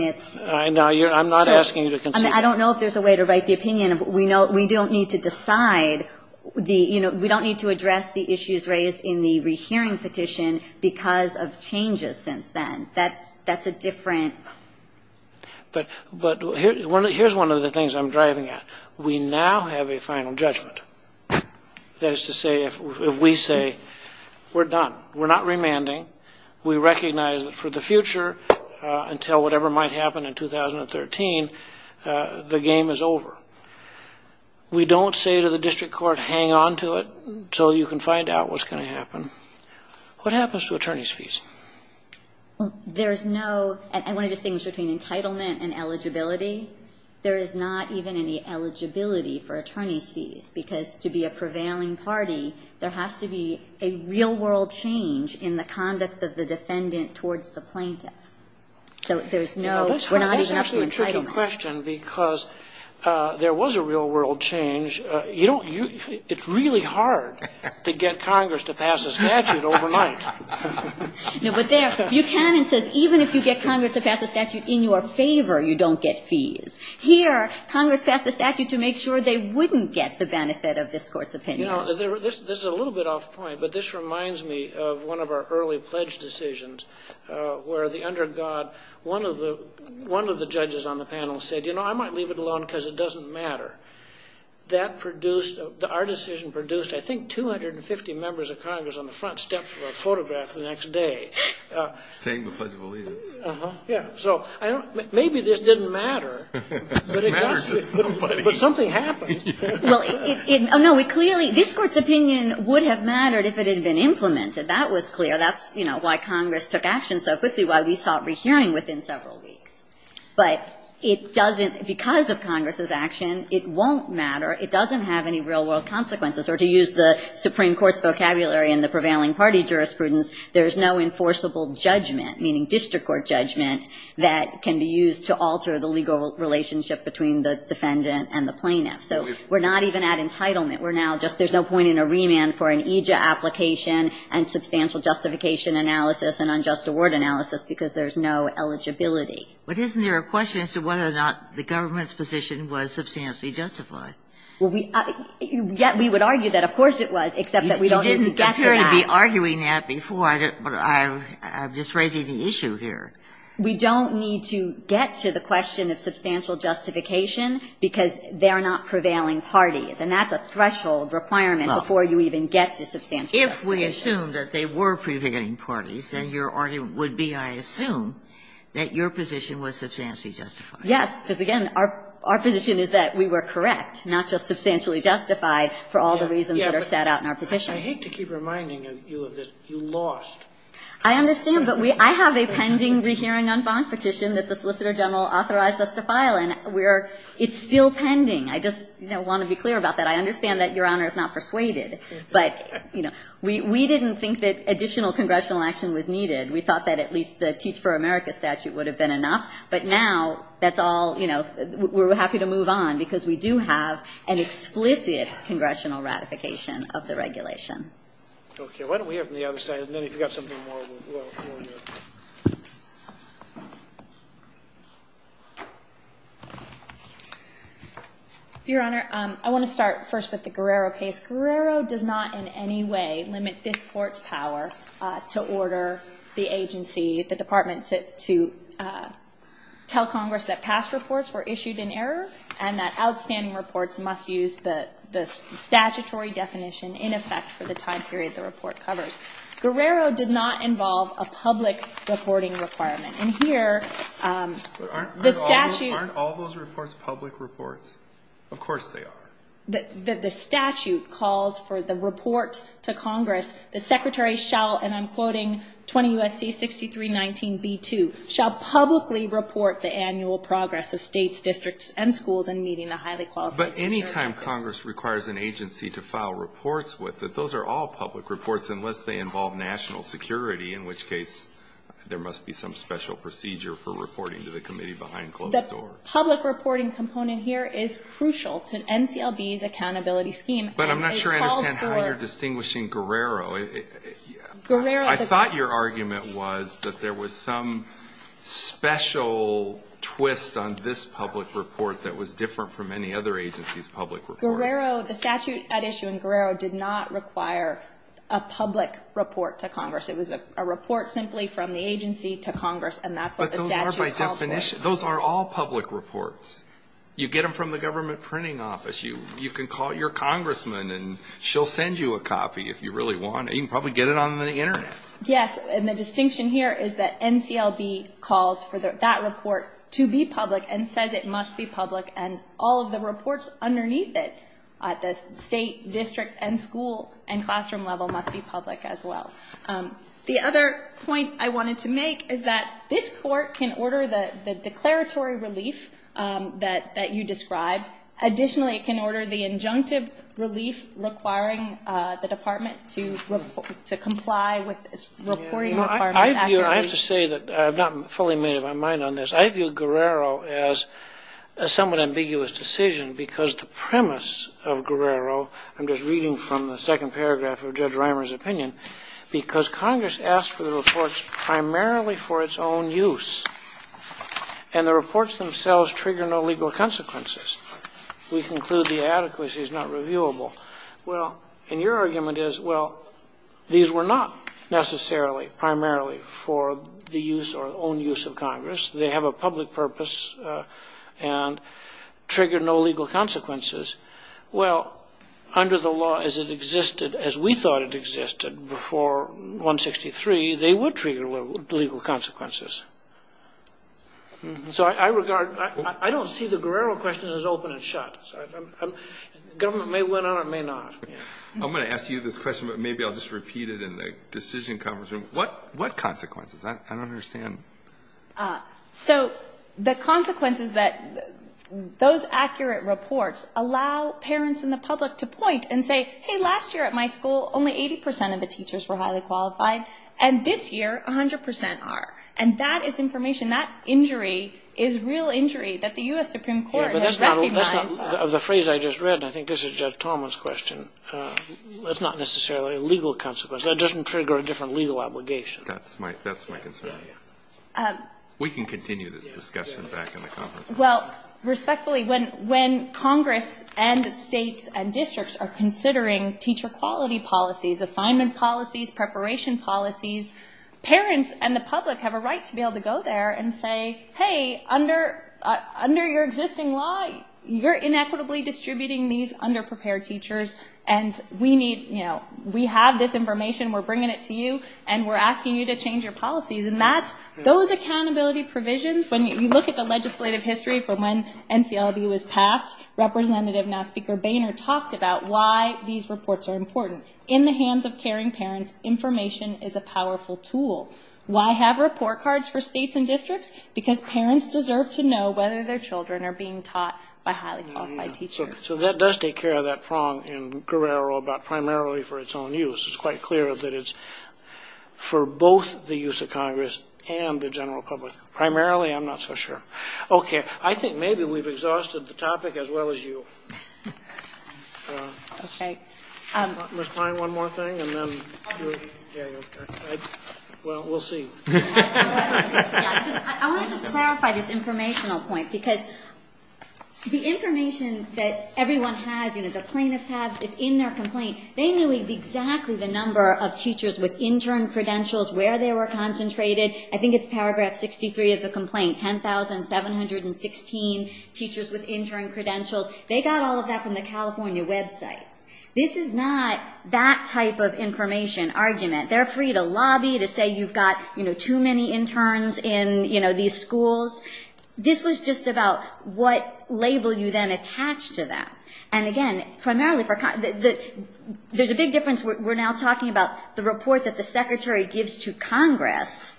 its... I understand that. I'm not asking you to concede. I mean, I don't know if there's a way to write the opinion, but we don't need to decide the... You know, we don't need to address the issues raised in the re-hearing petition because of changes since then. That's a different... But here's one of the things I'm driving at. We now have a final judgment. That is to say, if we say, we're done. We're not remanding. We recognize that for the future, until whatever might happen in 2013, the game is over. We don't say to the district court, hang on to it, until you can find out what's going to happen. What happens to attorney's fees? There's no... I want to distinguish between entitlement and eligibility. There is not even any eligibility for attorney's fees, because to be a prevailing party, there has to be a real-world change in the conduct of the defendant towards the plaintiff. So there's no... Well, that's a tricky question, because there was a real-world change. It's really hard to get Congress to pass a statute overnight. No, but there, Buchanan says, even if you get Congress to pass a statute in your favor, you don't get fees. Here, Congress passed a statute to make sure they wouldn't get the benefit of this court's opinion. You know, this is a little bit off point, but this reminds me of one of our early pledge decisions, where the undergod, one of the judges on the panel said, you know, I might leave it alone, because it doesn't matter. That produced... Our decision produced, I think, 250 members of Congress on the front steps for a photograph the next day. Saying the Pledge of Allegiance. Uh-huh. Yeah. So, I don't... Maybe this didn't matter. It mattered to somebody. But something happened. Well, it... Oh, no. It clearly... This court's opinion would have mattered if it had been implemented. That was clear. That's, you know, why Congress took action so quickly, why we sought rehearing within several weeks. But it doesn't... Because of Congress's action, it won't matter. It doesn't have any real-world consequences, or to use the Supreme Court's vocabulary in the prevailing party jurisprudence, there's no enforceable judgment, meaning district court judgment, that can be used to alter the legal relationship between the defendant and the plaintiff. So, we're not even at entitlement. We're now just... There's no point in a remand for an EJIA application and substantial justification analysis and unjust award analysis, because there's no eligibility. But isn't there a question as to whether or not the government's position was substantially justified? Well, we... Yet, we would argue that, of course, it was, except that we don't need to get to that. You didn't appear to be arguing that before, but I'm just raising the issue here. We don't need to get to the question of substantial justification, because they are not prevailing parties. And that's a threshold requirement before you even get to substantial justification. If we assume that they were prevailing parties, then your argument would be, I assume, that your position was substantially justified. Yes, because, again, our position is that we were correct, not just substantially justified for all the reasons that are set out in our petition. I hate to keep reminding you of this. You lost. I understand, but we – I have a pending rehearing on Fonk petition that the Solicitor General authorized us to file, and we're – it's still pending. I just, you know, want to be clear about that. I understand that Your Honor is not persuaded, but, you know, we didn't think that additional congressional action was needed. We thought that at least the Teach for America statute would have been enough. But now that's all, you know, we're happy to move on, because we do have an explicit congressional ratification of the regulation. Okay. Why don't we hear from the other side, and then if you've got something more, we'll hear from you. Your Honor, I want to start first with the Guerrero case. Guerrero does not in any way limit this Court's power to order the agency, the Department, to tell Congress that past reports were issued in error and that outstanding reports must use the statutory definition in effect for the time period the report covers. Guerrero did not involve a public reporting requirement. And here, the statute – Aren't all those reports public reports? Of course they are. The statute calls for the report to Congress. The Secretary shall, and I'm quoting 20 U.S.C. 6319b2, shall publicly report the annual progress of states, districts, and schools in meeting the highly qualified – But any time Congress requires an agency to file reports with it, those are all public reports, unless they involve national security, in which case there must be some special procedure for reporting to the committee behind closed doors. The public reporting component here is crucial to NCLB's accountability scheme. But I'm not sure I understand how you're distinguishing Guerrero. I thought your argument was that there was some special twist on this public report that was different from any other agency's public report. Guerrero – the statute at issue in Guerrero did not require a public report to Congress. It was a report simply from the agency to Congress, and that's what the statute calls for. But those are by definition – those are all public reports. You get them from the government printing office. You can call your congressman and she'll send you a copy if you really want it. You can probably get it on the internet. Yes, and the distinction here is that NCLB calls for that report to be public and says it must be public and all of the reports underneath it at the state, district, and school and classroom level must be public as well. The other point I wanted to make is that this court can order the declaratory relief that you described. Additionally, it can order the injunctive relief requiring the department to comply with its reporting requirements. I have to say that – I have not fully made up my mind on this – I view Guerrero as a somewhat ambiguous decision because the premise of Guerrero – I'm just reading from the second paragraph of Judge Reimer's opinion – because Congress asked for the reports primarily for its own use, and the reports themselves trigger no legal consequences. We conclude the adequacy is not reviewable. Well, and your argument is, well, these were not necessarily primarily for the use or own use of Congress. They have a public purpose and trigger no legal consequences. Well, under the law as it existed, as we thought it existed before 163, they would trigger legal consequences. So I regard – I don't see the Guerrero question as open and shut. The government may win on it or may not. I'm going to ask you this question, but maybe I'll just repeat it in the decision conference room. What consequences? I don't understand. So the consequence is that those accurate reports allow parents and the public to point and say, hey, last year at my school, only 80 percent of the teachers were highly qualified, and this year, 100 percent are. And that is information. That injury is real injury that the U.S. Supreme Court has recognized. That's not – of the phrase I just read, and I think this is Judge Talman's question, that's not necessarily a legal consequence. That doesn't trigger a different legal obligation. That's my – that's my concern. We can continue this discussion back in the conference room. Well, respectfully, when Congress and states and districts are considering teacher quality policies, assignment policies, preparation policies, parents and the public have a right to be able to go there and say, hey, under your existing law, you're inequitably distributing these under-prepared teachers, and we need – we have this information, we're bringing it to you, and we're asking you to change your policies. And that's – those accountability provisions, when you look at the legislative history from when NCLB was passed, Representative, now Speaker Boehner, talked about why these reports are important. In the hands of caring parents, information is a powerful tool. Why have report cards for states and districts? Because parents deserve to know whether their children are being taught by highly qualified teachers. So that does take care of that prong in Guerrero about primarily for its own use. It's quite clear that it's for both the use of Congress and the general public. Primarily? I'm not so sure. Okay. I think maybe we've exhausted the topic as well as you. Okay. Ms. Pine, one more thing, and then – well, we'll see. I want to just clarify this informational point, because the information that everyone has, you know, the plaintiffs have, it's in their complaint. They knew exactly the number of teachers with intern credentials, where they were concentrated. I think it's paragraph 63 of the complaint, 10,716 teachers with intern credentials. They got all of that from the California websites. This is not that type of information argument. They're free to lobby, to say you've got, you know, too many interns in, you know, these schools. This was just about what label you then attach to that. And again, primarily for – there's a big difference. We're now talking about the report that the Secretary gives to Congress.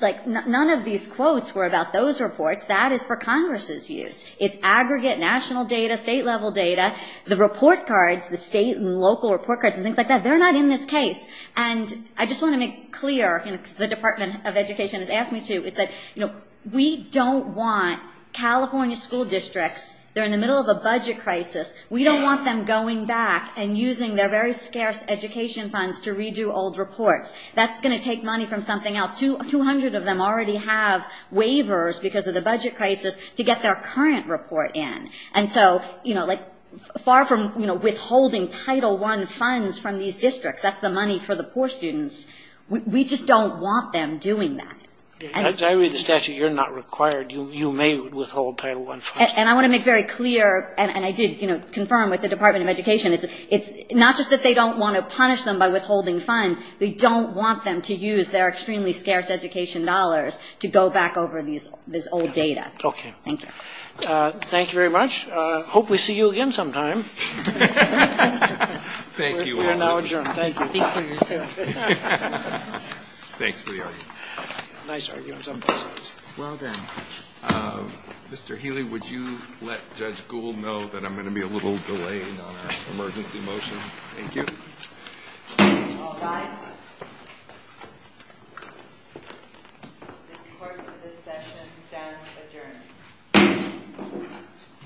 Like none of these quotes were about those reports. That is for Congress's use. It's aggregate national data, state-level data. The report cards, the state and local report cards and things like that, they're not in this case. And I just want to make clear, you know, because the Department of Education has asked me to, is that, you know, we don't want California school districts – they're in the middle of a budget crisis – we don't want them going back and using their very scarce education funds to redo old reports. That's going to take money from something else. Two hundred of them already have waivers because of the budget crisis to get their current report in. And so, you know, like far from, you know, withholding Title I funds from these districts – that's the money for the poor students – we just don't want them doing that. As I read the statute, you're not required. You may withhold Title I funds. And I want to make very clear – and I did, you know, confirm with the Department of Education – it's not just that they don't want to punish them by withholding funds. We don't want them to use their extremely scarce education dollars to go back over these old data. Okay. Thank you. Thank you very much. Hope we see you again sometime. Thank you. We are now adjourned. Thank you. Speak for yourself. Thanks for the argument. Nice arguments on both sides. Well done. Mr. Healy, would you let Judge Gould know that I'm going to be a little delayed on Thank you. Thank you. Thank you. Thank you. Thank you. Thank you. Thank you. Thank you. Thank you. Thank you. Thank you. Thank you.